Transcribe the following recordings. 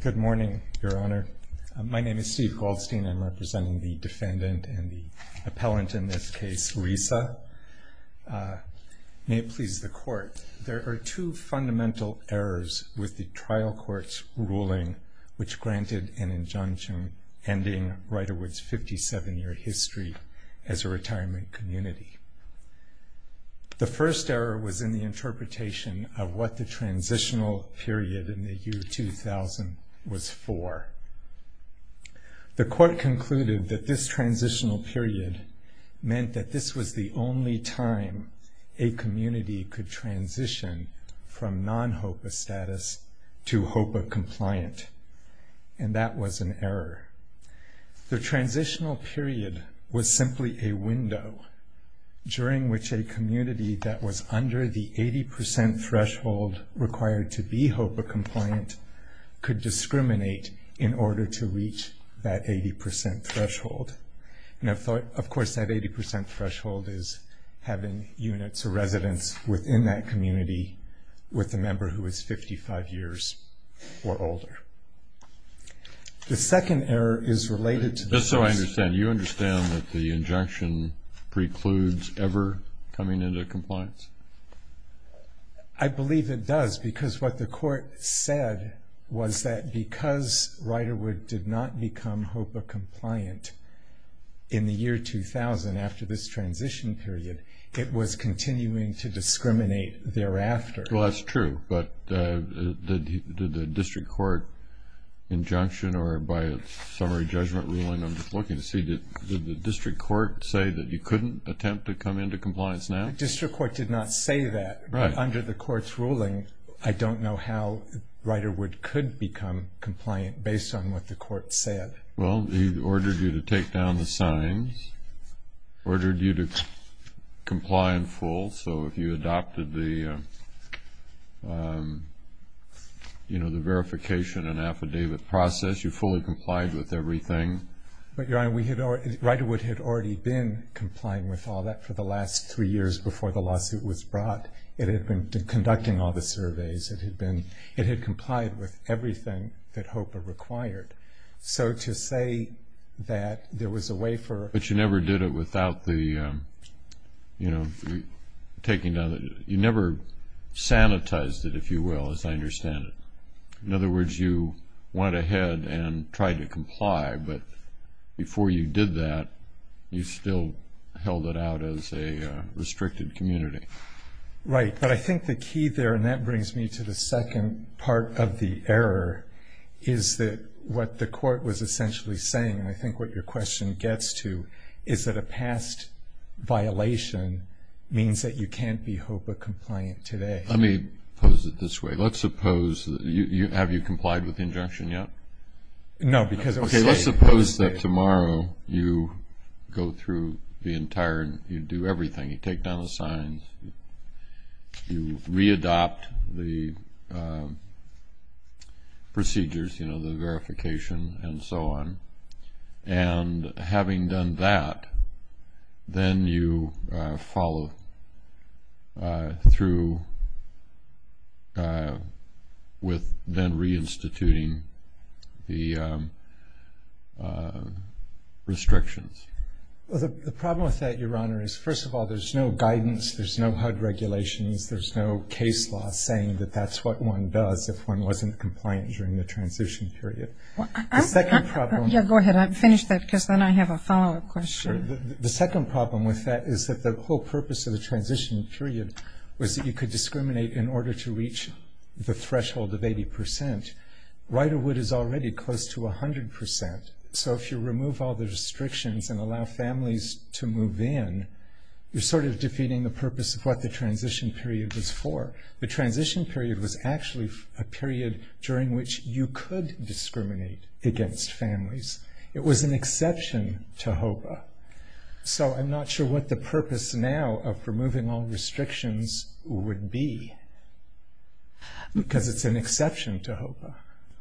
Good morning, Your Honor. My name is Steve Goldstein. I'm representing the defendant and the appellant in this case, Lisa. May it please the Court, there are two fundamental errors with the trial court's ruling which granted an injunction ending Ryderwood's 57-year history as a retirement community. The first error was in the interpretation of what the transitional period in the year 2000 was for. The Court concluded that this transitional period meant that this was the only time a community could transition from non-HOPA status to HOPA compliant, and that was an error. The transitional period was a threshold required to be HOPA compliant could discriminate in order to reach that 80% threshold. Now, of course, that 80% threshold is having units or residence within that community with a member who is 55 years or older. The second error is related to this. Just so I understand, you understand that the injunction precludes ever coming into compliance? I believe it does, because what the Court said was that because Ryderwood did not become HOPA compliant in the year 2000 after this transition period, it was continuing to discriminate thereafter. Well, that's true, but did the district court injunction or by a summary judgment ruling, I'm just looking to see, did the district court say that you couldn't attempt to come into compliance now? The district court did not say that, but under the Court's ruling, I don't know how Ryderwood could become compliant based on what the Court said. Well, he ordered you to take down the signs, ordered you to comply in full, so if you adopted the verification and affidavit process, you fully complied with everything. But Your Honor, Ryderwood had already been complying with all that for the last three years before the lawsuit was brought. It had been conducting all the surveys. It had complied with everything that HOPA required. So to say that there was a way for... But you never did it without the, you know, taking down the... You never sanitized it, if you will, as I understand it. In other words, you went ahead and tried to comply, but before you did that, you still held it out as a restricted community. Right, but I think the key there, and that brings me to the second part of the error, is that what the Court was essentially saying, and I think what your question gets to, is that a past violation means that you can't be HOPA compliant today. Let me pose it this way. Let's suppose... Have you complied with the injunction yet? No, because... Okay, let's suppose that tomorrow you go through the entire... You do everything. You take down the signs. You readopt the procedures, you know, the verification and so on. And then you follow through with then reinstituting the restrictions. The problem with that, Your Honor, is first of all, there's no guidance. There's no HUD regulations. There's no case law saying that that's what one does if one wasn't compliant during the transition period. The second problem... Yeah, go ahead. Finish that, because then I have a follow-up question. The second problem with that is that the whole purpose of the transition period was that you could discriminate in order to reach the threshold of 80%. Riderwood is already close to 100%, so if you remove all the restrictions and allow families to move in, you're sort of defeating the purpose of what the transition period was for. The transition period was actually a period during which you could discriminate against families. It was an exception to HOPA. So I'm not sure what the purpose now of removing all restrictions would be, because it's an exception to HOPA.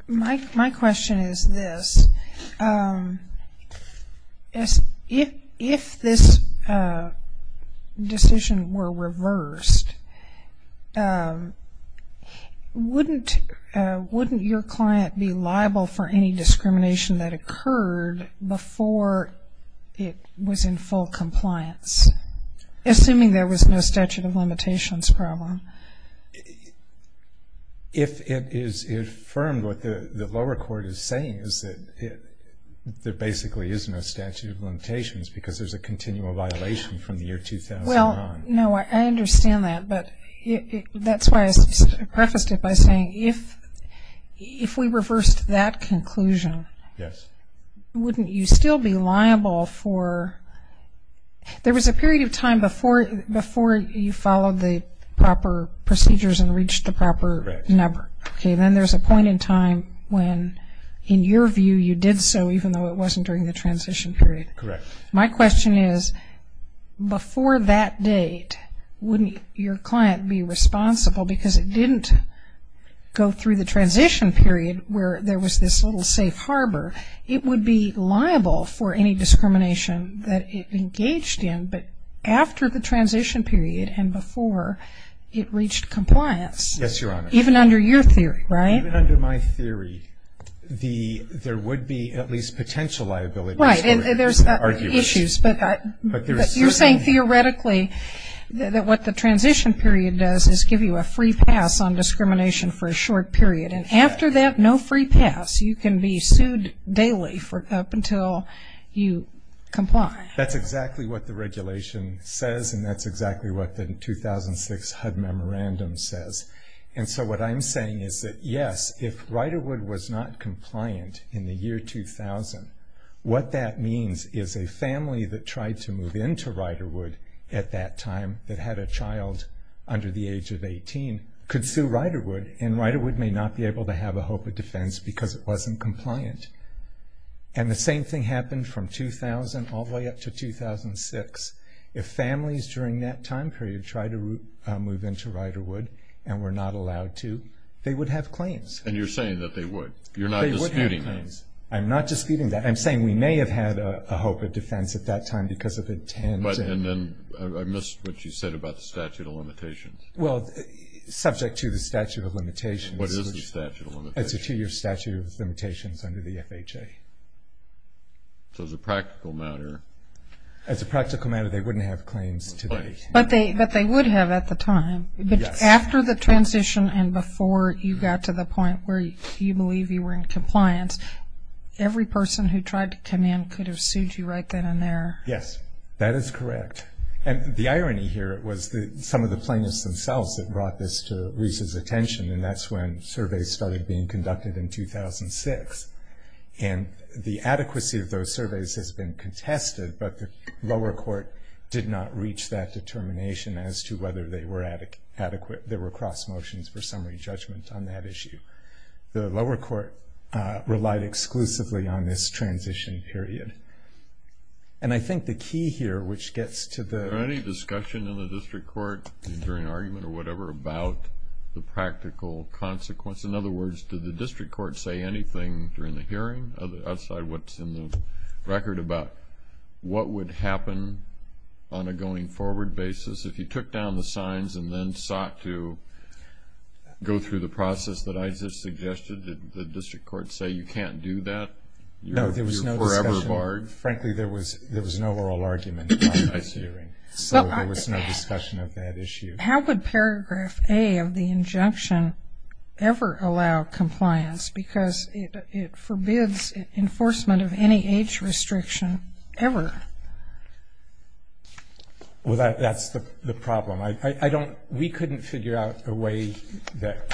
My question is this. If this decision were reversed, wouldn't your client be liable for any discrimination that occurred before it was in full compliance, assuming there was no statute of limitations problem? If it is affirmed, what the lower court is saying is that there basically is no statute of limitations because there's a continual violation from the year 2000 on. Well, no, I understand that, but that's why I prefaced it by saying if we reversed that conclusion, wouldn't you still be liable for – there was a period of time before you followed the proper procedures and reached the proper number. Then there's a point in time when, in your view, you did so even though it wasn't during the transition period. My question is, before that date, wouldn't your client be responsible because it didn't go through the transition period where there was this little safe harbor? It would be liable for any discrimination that it engaged in, but after the transition period and before it reached compliance, even under your theory, right? Yes, Your Honor. Even under my theory, there would be at least potential liabilities. Right, and there's issues, but you're saying theoretically that what the transition period does is give you a free pass on discrimination for a short period. After that, no free pass. You can be sued daily up until you comply. That's exactly what the regulation says, and that's exactly what the 2006 HUD memorandum says. What I'm saying is that, yes, if Riderwood was not compliant in the year 2000, what that means is a family that tried to move into Riderwood at that time that had a child under the age of 18 could sue Riderwood, and Riderwood may not be able to have a hope of defense because it wasn't compliant. The same thing happened from 2000 all the way up to 2006. If families during that time period tried to move into Riderwood and were not allowed to, they would have claims. You're saying that they would. You're not disputing that. I'm not disputing that. I'm saying we may have had a hope of defense at that time because of intent. But, and then I missed what you said about the statute of limitations. Well, subject to the statute of limitations. What is the statute of limitations? It's a two-year statute of limitations under the FHA. So, as a practical matter. As a practical matter, they wouldn't have claims today. But they would have at the time. Yes. But after the transition and before you got to the point where you believe you were in every person who tried to come in could have sued you right then and there. Yes. That is correct. And the irony here was some of the plaintiffs themselves that brought this to Reese's attention and that's when surveys started being conducted in 2006. And the adequacy of those surveys has been contested, but the lower court did not reach that determination as to whether they were adequate. There were cross motions for summary judgment on that issue. The lower court relied exclusively on this transition period. And I think the key here, which gets to the... Is there any discussion in the district court during argument or whatever about the practical consequence? In other words, did the district court say anything during the hearing outside what's in the record about what would happen on a going forward basis if you took down the signs and then sought to go through the process that I just suggested? Did the district court say you can't do that? No, there was no discussion. You're forever barred? Frankly, there was no oral argument on that hearing. So there was no discussion of that issue. How could paragraph A of the injunction ever allow compliance? Because it forbids enforcement of any age restriction ever. Well, that's the problem. I don't... We couldn't figure out a way that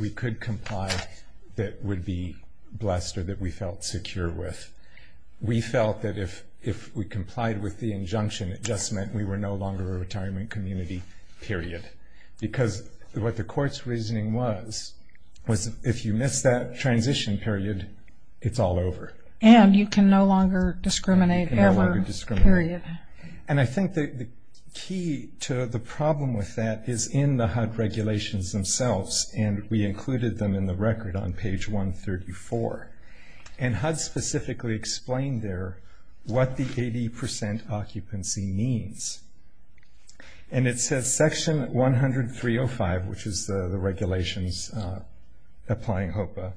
we could comply that would be blessed or that we felt secure with. We felt that if we complied with the injunction, it just meant we were no longer a retirement community, period. Because what the court's reasoning was, was if you miss that transition period, it's all over. And you can no longer discriminate ever, period. And I think the key to the problem with that is in the HUD regulations themselves, and we included them in the record on page 134. And HUD specifically explained there what the 80% occupancy means. And it says section 103.05, which is the regulations applying HOPA,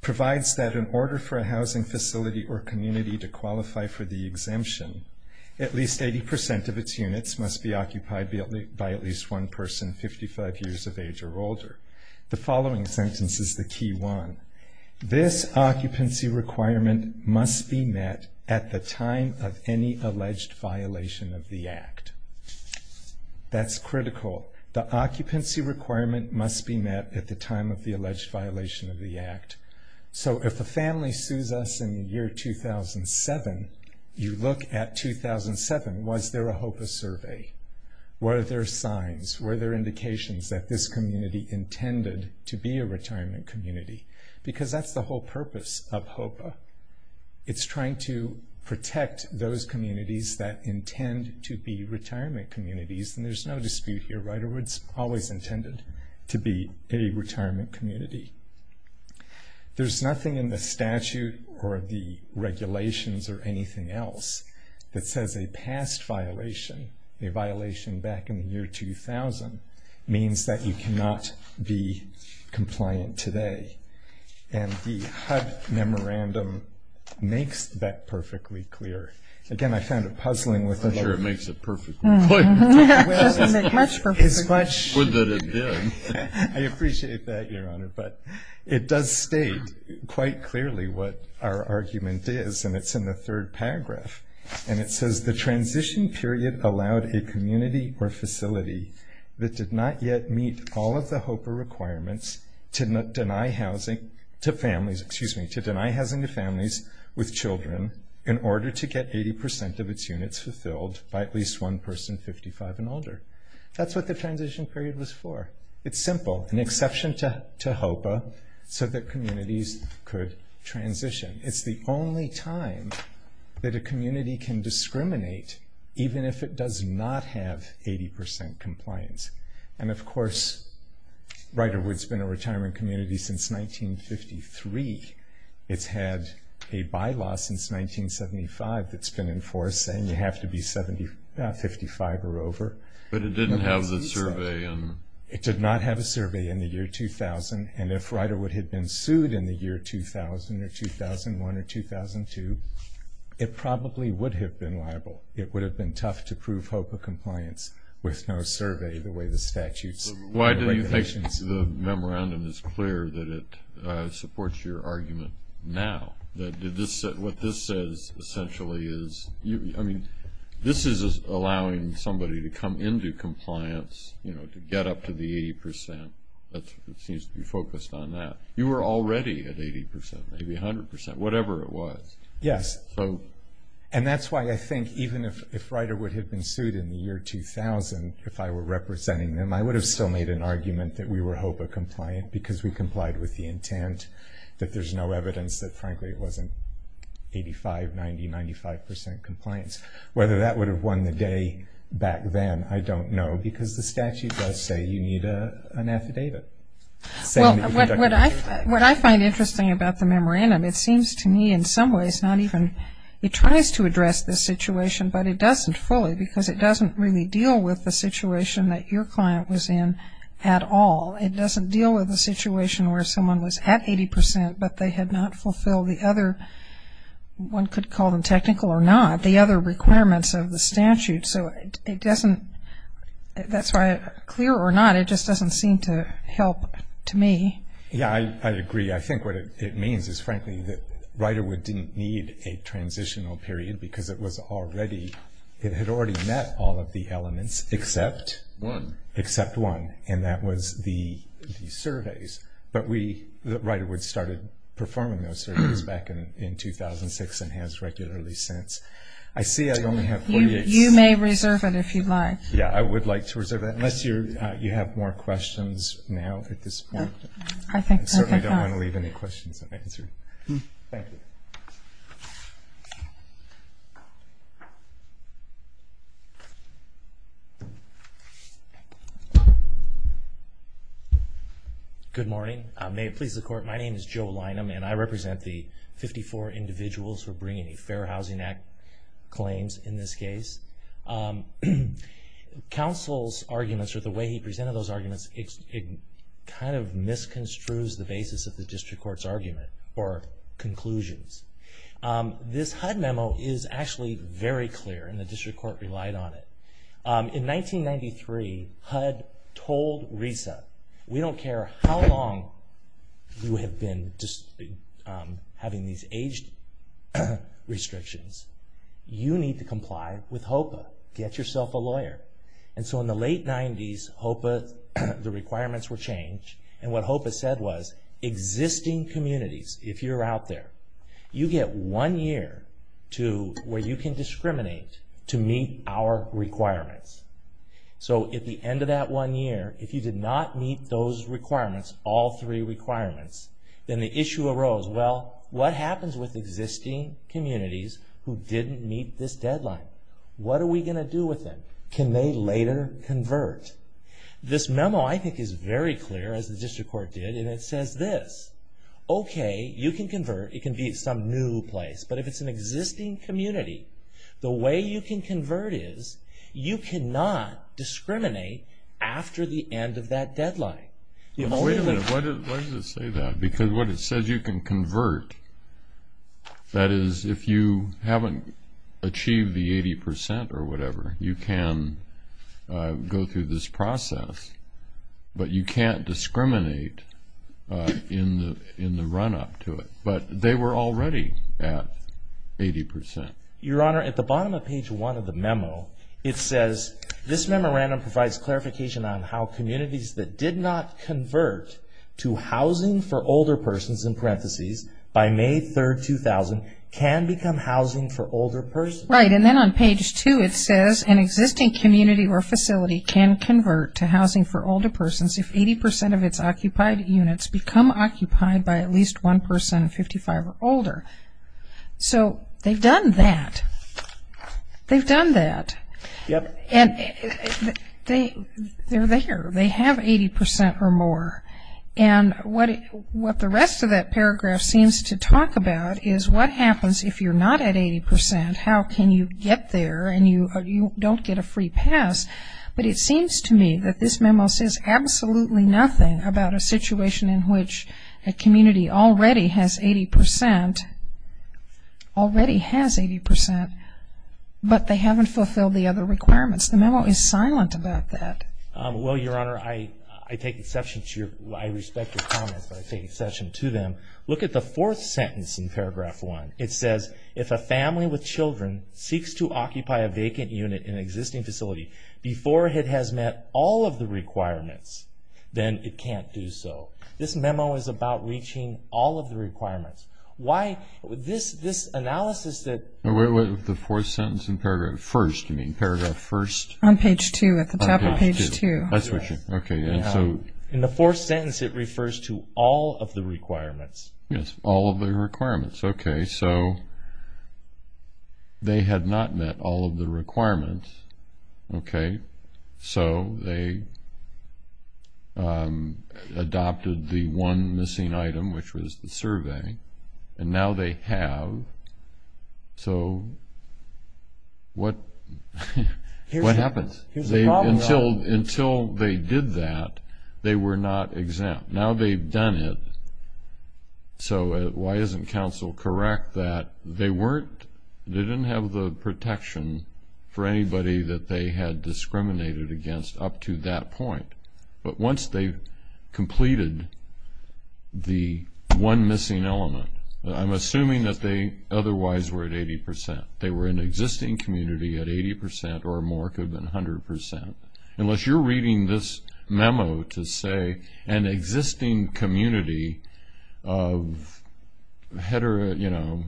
provides that in order for a housing facility or community to qualify for the exemption, at least 80% of its units must be occupied by at least one person 55 years of age or older. The following sentence is the key one. This occupancy requirement must be met at the time of any alleged violation of the act. That's critical. The occupancy requirement must be met at the time of the alleged violation of the act. So if a family sues us in the year 2007, you look at 2007. Was there a HOPA survey? Were there signs? Were there indications that this community intended to be a retirement community? Because that's the whole purpose of HOPA. It's trying to protect those communities that intend to be retirement communities. And there's no dispute here. Riderwood's always intended to be a retirement community. There's nothing in the statute or the regulations or anything else that says a past violation, a violation back in the year 2000, means that you cannot be compliant today. And the HUD memorandum makes that perfectly clear. Again, I found it puzzling with the... It doesn't make much perfect. I appreciate that, Your Honor. But it does state quite clearly what our argument is. And it's in the third paragraph. And it says the transition period allowed a community or facility that did not yet meet all of the HOPA requirements to deny housing to families with children in order to get 80% of its units fulfilled by at least one person 55 and older. That's what the transition period was for. It's simple. An exception to HOPA so that communities could transition. It's the only time that a community can discriminate even if it does not have 80% compliance. And of course, Riderwood's been a retirement community since 1953. It's had a bylaw since 1975 that's been in force saying you have to be 55 or over. But it didn't have the survey. It did not have a survey in the year 2000. And if Riderwood had been sued in the year 2000 or 2001 or 2002, it probably would have been liable. It would have been tough to prove HOPA compliance with no survey the way the statutes and regulations... Your argument now that what this says essentially is... I mean, this is allowing somebody to come into compliance, you know, to get up to the 80%. It seems to be focused on that. You were already at 80%, maybe 100%, whatever it was. Yes. So... And that's why I think even if Riderwood had been sued in the year 2000 if I were representing them, I would have still made an argument that we were HOPA compliant because we complied with the intent, that there's no evidence that, frankly, it wasn't 85%, 90%, 95% compliance. Whether that would have won the day back then, I don't know because the statute does say you need an affidavit. Well, what I find interesting about the memorandum, it seems to me in some ways not even... It tries to address the situation, but it doesn't fully because it doesn't really deal with the situation that your client was in at all. It doesn't deal with the situation where someone was at 80%, but they had not fulfilled the other... One could call them technical or not, the other requirements of the statute. So it doesn't... That's why, clear or not, it just doesn't seem to help to me. Yeah, I agree. I think what it means is, frankly, that Riderwood didn't need a transitional period because it was already... It had already met all of the elements except... One. Except one, and that was the surveys. But Riderwood started performing those surveys back in 2006 and has regularly since. I see I only have 48 seconds. You may reserve it if you'd like. Yeah, I would like to reserve it, unless you have more questions now at this point. I think not. I certainly don't want to leave any questions unanswered. Thank you. Good morning. May it please the Court. My name is Joe Lynham, and I represent the 54 individuals who are bringing a Fair Housing Act claims in this case. Counsel's arguments, or the way he presented those arguments, it kind of misconstrues the basis of the district court's argument or conclusions. This HUD memo is actually very clear, and the district court relied on it. In 1993, HUD told RESA, we don't care how long you have been having these age restrictions. You need to comply with HOPA. Get yourself a lawyer. And so in the late 90s, HOPA, the requirements were changed, and what HOPA said was, existing communities, if you're out there, you get one year to where you can discriminate to meet our requirements. So at the end of that one year, if you did not meet those requirements, all three requirements, then the issue arose. Well, what happens with existing communities who didn't meet this deadline? What are we going to do with them? Can they later convert? This memo, I think, is very clear, as the district court did, and it says this. Okay, you can convert. It can be some new place. But if it's an existing community, the way you can convert is you cannot discriminate after the end of that deadline. Wait a minute. Why does it say that? Because what it says, you can convert. That is, if you haven't achieved the 80% or whatever, you can go through this process, but you can't discriminate in the run-up to it. But they were already at 80%. Your Honor, at the bottom of page 1 of the memo, it says, this memorandum provides clarification on how communities that did not convert to Housing for Older Persons, in parentheses, by May 3, 2000, can become Housing for Older Persons. Right, and then on page 2, it says, an existing community or facility can convert to Housing for Older Persons if 80% of its occupied units become occupied by at least one person 55 or older. So they've done that. They've done that. Yep. And they're there. They have 80% or more. And what the rest of that paragraph seems to talk about is what happens if you're not at 80%? How can you get there and you don't get a free pass? But it seems to me that this memo says absolutely nothing about a situation in which a community already has 80% already has 80%, but they haven't fulfilled the other requirements. The memo is silent about that. Well, Your Honor, I take exception to your I respect your comments, but I take exception to them. Look at the fourth sentence in paragraph 1. It says, if a family with children seeks to occupy a vacant unit in an existing facility before it has met all of the requirements, then it can't do so. This memo is about reaching all of the requirements. Why? This analysis that Wait, wait, wait. The fourth sentence in paragraph 1. You mean paragraph 1? On page 2. At the top of page 2. I switched it. Okay. In the fourth sentence it refers to all of the requirements. Yes. All of the requirements. Okay. So, they had not met all of the requirements. Okay. So, they adopted the one missing item which was the survey. And now they have. So, what What happens? Until they did that they were not exempt. Now they've done it. So, why isn't counsel correct that they weren't they didn't have the protection for anybody that they had discriminated against up to that point. But once they completed the one missing element I'm assuming that they otherwise were at 80%. They were an existing community at 80% or more could have been 100%. Unless you're reading this memo to say an existing community of hetero you know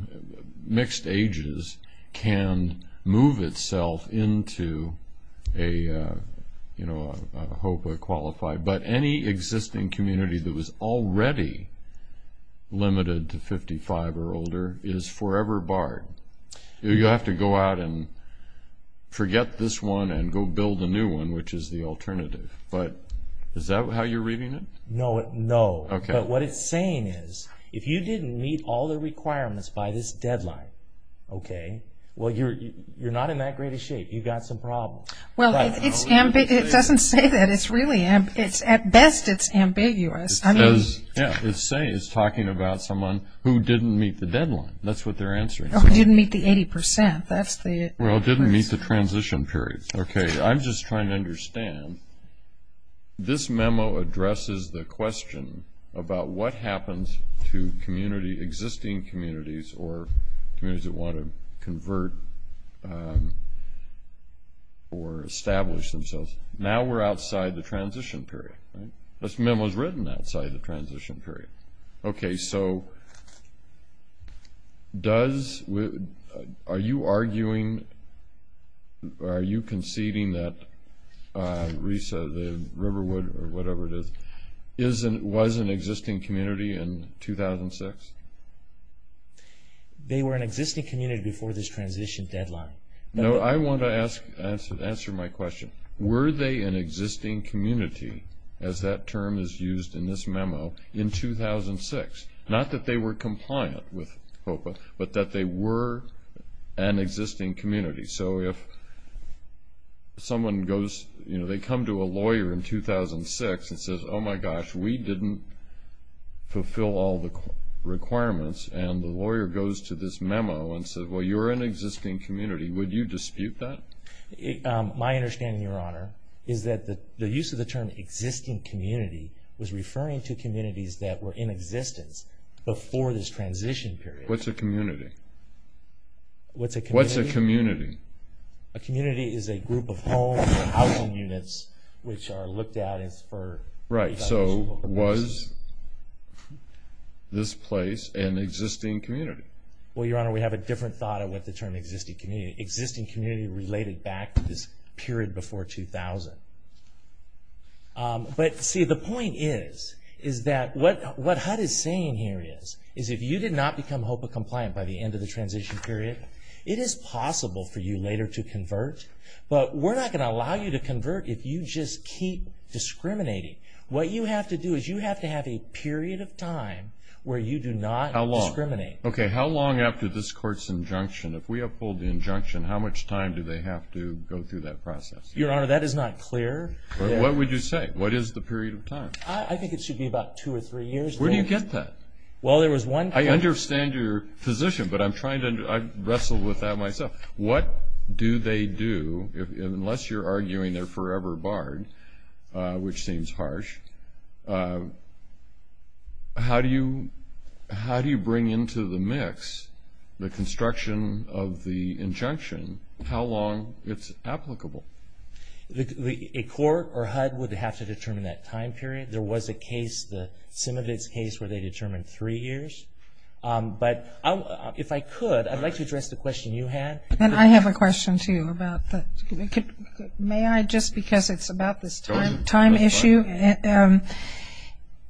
mixed ages can move itself into a you know a HOPA qualified but any existing community that was already limited to 55 or older is forever barred. You have to go out and forget this one and go build a new one which is the alternative. But is that how you're reading it? No. But what it's saying is if you didn't meet all the requirements by this deadline you're not in that great of shape. You've got some problems. It doesn't say that. At best it's ambiguous. It's talking about someone who didn't meet the deadline. Didn't meet the 80%. Didn't meet the transition period. I'm just trying to understand this memo addresses the question about what happens to existing communities or communities that want to convert or establish themselves. Now we're outside the transition period. This memo is written outside the transition period. Okay. So does are you arguing are you conceding that Risa the Riverwood or whatever it is was an existing community in 2006? They were an existing community before this transition deadline. I want to answer my question. Were they an existing community as that term is used in this memo in 2006? Not that they were compliant with HOPA but that they were an existing community. So if someone goes you know they come to a lawyer in 2006 and says oh my gosh we didn't fulfill all the requirements and the existing community was referring to communities that were in existence before this transition period. What's a community? What's a community? A community is a group of homes or housing units which are looked at as for Right. So was this place an existing community? But see the point is is that what HUD is saying here is if you did not become HOPA compliant by the end of the transition period it is possible for you later to convert but we're not going to What is the period of time? I think it should be about two or three years. Where do you get that? I understand your position but I wrestle with that myself. What do they do unless you're arguing they're forever barred which seems harsh. How do you bring into the mix the construction of the injunction? How long is it applicable? A court or HUD would have to determine that time period. There was a case where they determined three years. If I could I'd like to address the question you had. I have a question too. May I just because it's about this time issue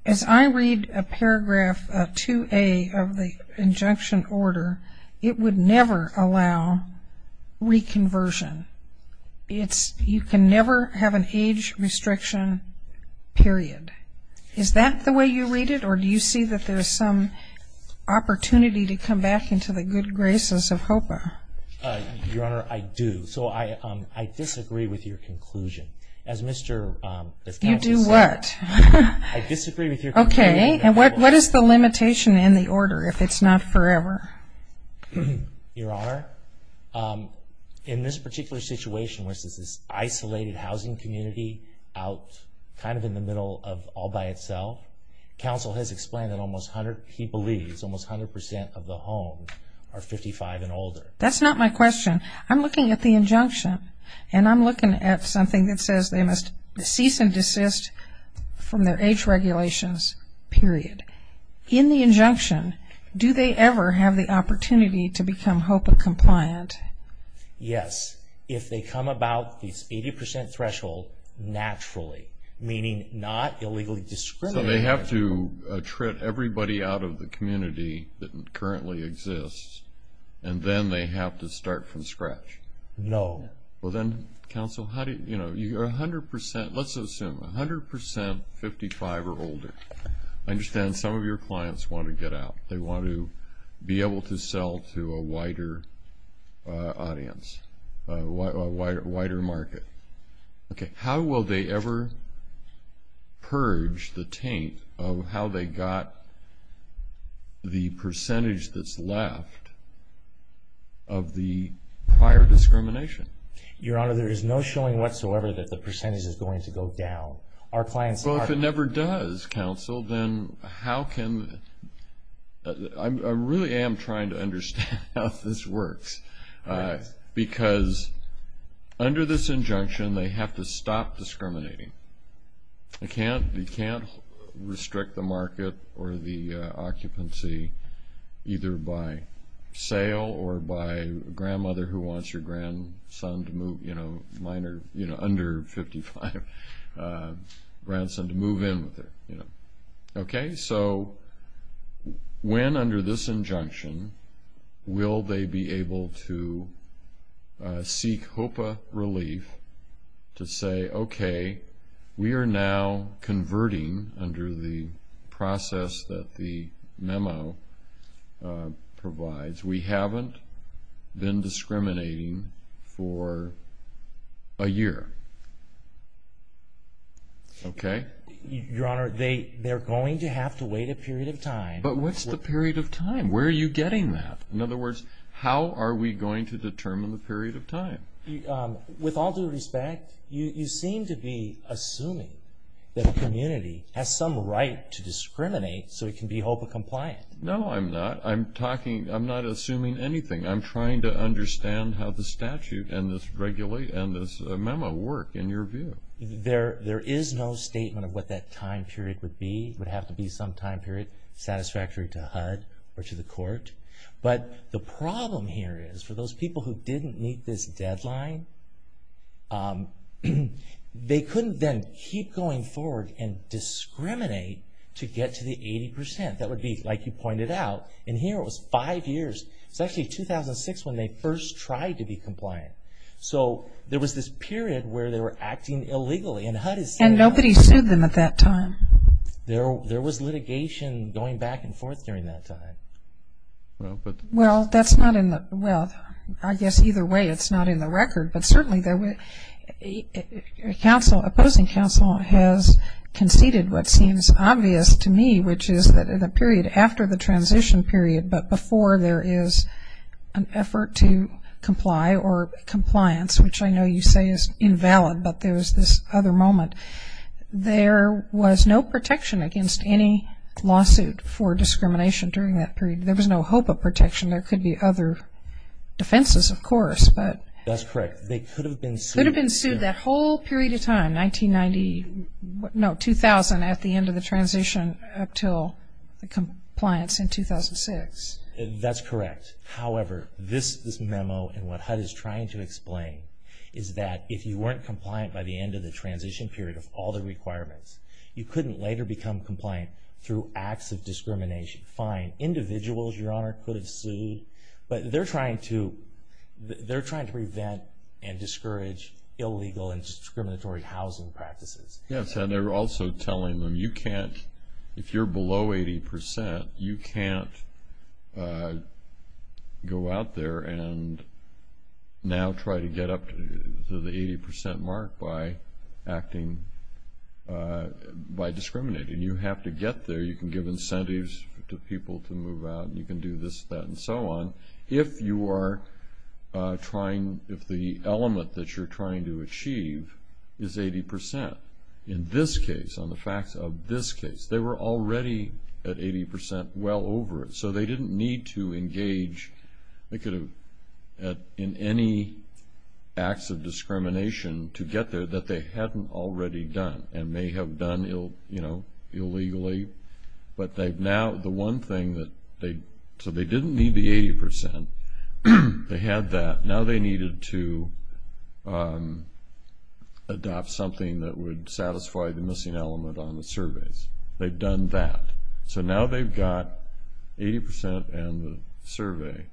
as I read paragraph 2A of the injunction order it would never allow reconversion. It's you can never have an age restriction period. Is that the way you read it or do you see that there's some opportunity to come back into the good time Is there a limitation in the order if it's not forever? Your honor in this particular situation where it's this isolated housing community out kind of in the middle of all by itself council has explained that almost 100% of the home are 55 and older. That's not my question. I'm looking at the injunction and I'm looking at something that says they must cease and desist from their age regulations period. In the injunction do they ever have the opportunity to become hope and compliant? Yes. If they come about the 80% threshold naturally meaning not illegally discriminated against. So they have to trip everybody out of the community that currently exists and then they have to start from scratch? No. Well then counsel, let's assume 100% 55 or older. I understand some of your clients want to get out. They want to be able to sell to a wider audience, a wider market. How will they ever purge the taint of how they got the percentage that's left of the prior discrimination? Your Honor, there is no showing whatsoever that the percentage is going to go down. Our clients are... Well, if it never does counsel, then how can... I really am trying to understand how this works because under this injunction will they be able to seek HOPA relief to say, now converting under the process that the memo provides to counsel and counsel and counsel and counsel and counsel and the memo provides, we haven't been discriminating for a year. Okay? Your Honor, they're going to have to wait a period of time. But what's the period of time? Where are you getting that? In other words, how are we going to determine the time period? I'm not assuming anything. I'm trying to understand how the statute and this memo work in your view. no statement of what that time period would be. It would have to be some time period satisfactory to HUD or to the court. But the problem here is for those people who didn't meet this deadline, they couldn't then keep going forward and discriminate to get to the 80%. That would be like you pointed out. And here it was five years. It's actually 2006 when they first tried to be compliant. So there was this period where they were acting illegally. And nobody sued them at that time. There was litigation going back and forth during that time. Well, I guess either way it's not in the record. But certainly opposing counsel has conceded what seems obvious to me, which is the period after the transition period, but before there is an effort to comply or compliance, which I know you say is invalid, but there was this other moment. There was no protection against any lawsuit for discrimination during that period. There was no hope of protection. There could be other defenses, of course. But that's correct. They could have been sued that whole period of time, 2000, at the end of the transition until the compliance in That's correct. However, this memo and what HUD is trying to explain is that if you weren't compliant by the end of the transition, you can't go out there and now try to get up to the 80% mark by acting by discriminating. You have to get there. You can give incentives to people to move out. You can do this, that, and so on, if you are trying, if the element that you're trying to achieve is 80%. In this case, on the facts of this case, they were already at 80% well over it, so they didn't need to engage in any acts of discrimination to get there that they hadn't already done and may have done illegally, but now the one thing that they didn't need the 80%, they had that, now they needed to adopt something that would satisfy the missing element on the surveys. They've done that, so now they've got 80% and the survey,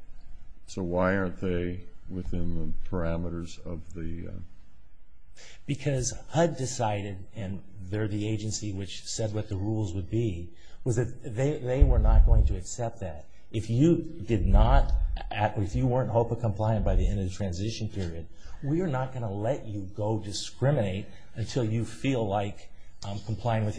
so why aren't they within the parameters of the... Because HUD decided, and they're the agency which said what the rules would be, was that they were not going to accept that. If you weren't HOPA compliant by the end of the transition period, we are not going to let you go discriminate until you decide are not compliant. We have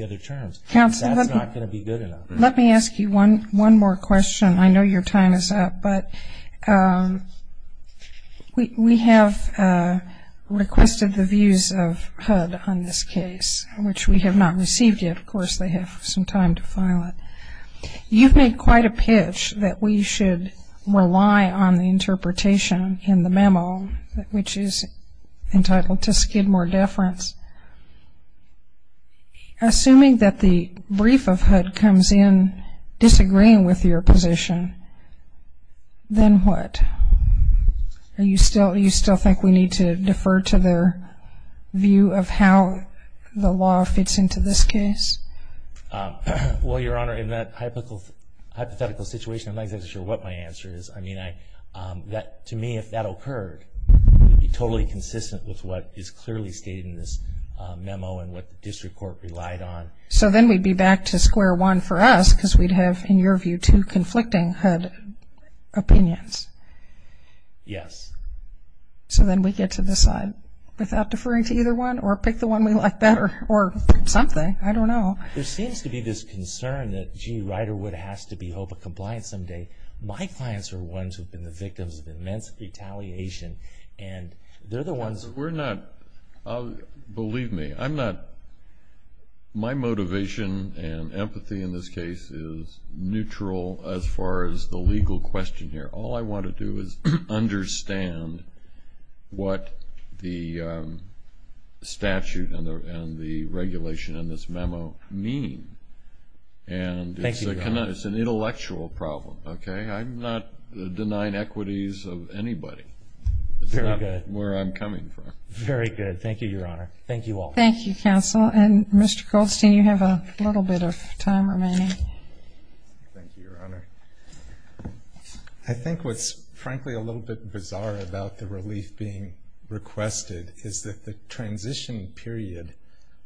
requested the views of HUD on this case, which we have not received yet. Of course they have some time to file it. You've made quite a pitch that we should rely on the interpretation in the memo, which is entitled to skid more on. Do you still think we need to defer to their view of how the law fits into this case? Well, Your Honor, in that hypothetical situation, I'm not sure what my answer is. I mean, to me, if that occurred, it would be totally consistent with what is clearly stated in this memo and what the district court relied on. So then we'd be back to square one for us because we'd have, in your view, two conflicting HUD opinions? Yes. So then we get to decide without deferring to either one or pick the one we like better or something. I don't know. There seems to be this concern that, gee, Riderwood has to be held to compliance someday. My clients are ones who have been the victims of immense retaliation and they're the ones who believe me, I'm not my motivation and empathy in this case is neutral as far as the legal question here. All I want to do is what the statute and the regulation in this memo mean. Thank you, Your Honor. It's an intellectual problem, okay? I'm not denying equities of anybody. Very good. It's not where I'm coming from. Very good. Thank you, Your Honor. Thank you all. Thank you, counsel. And Mr. Goldstein, you have a little bit of time remaining. Thank you, Your Honor. I think what's frankly a little bit bizarre about the relief being requested is that the transition period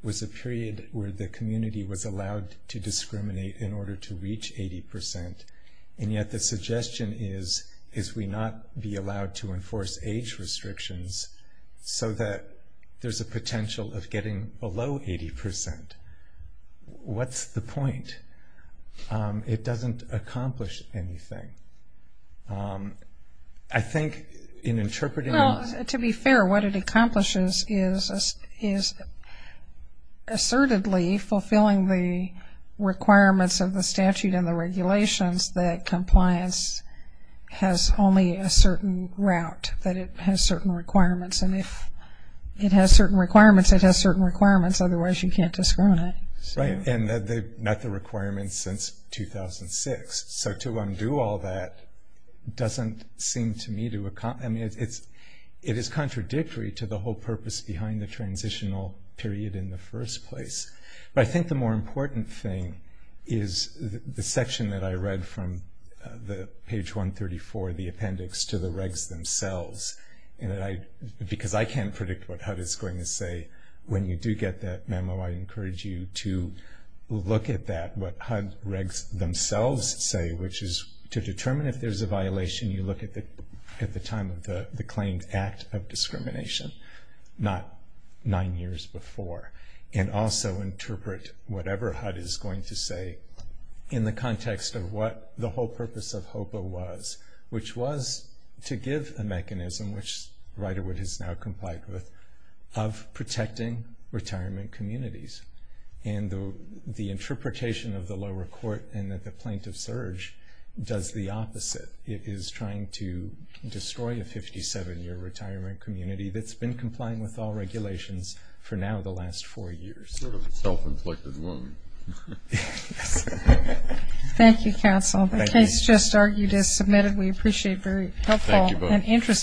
was a period where the community was allowed to discriminate in order to reach 80%. And yet the suggestion is we not be allowed to enforce age restrictions so that there's a potential of getting below 80%. What's the point? It doesn't accomplish anything. I think in interpreting To be fair, what it accomplishes is assertedly fulfilling the requirements of the regulations that compliance has only a certain route. That it has certain requirements. And if it has certain requirements, it has certain requirements. Otherwise you can't discriminate. Right. And not the requirements since 2006. So to undo all that doesn't seem to me to accomplish I mean it is contradictory to the whole purpose behind the transitional period in the first place. But I think the more important thing is the section that I read from page 134 of the appendix to the regs themselves. Because I can't predict what HUD is going to say when you do get that memo I encourage you to look at that what HUD regs themselves say which is to determine if there is a mechanism which was to give a mechanism which Riderwood has now complied with of protecting retirement communities and the interpretation of the lower court and plaintiff surge does the opposite is trying to destroy a 57 year retirement community that's been complying with all regulations for now the last four years. Thank you counsel the case just argued is submitted we thank you the court for this session stands adjourned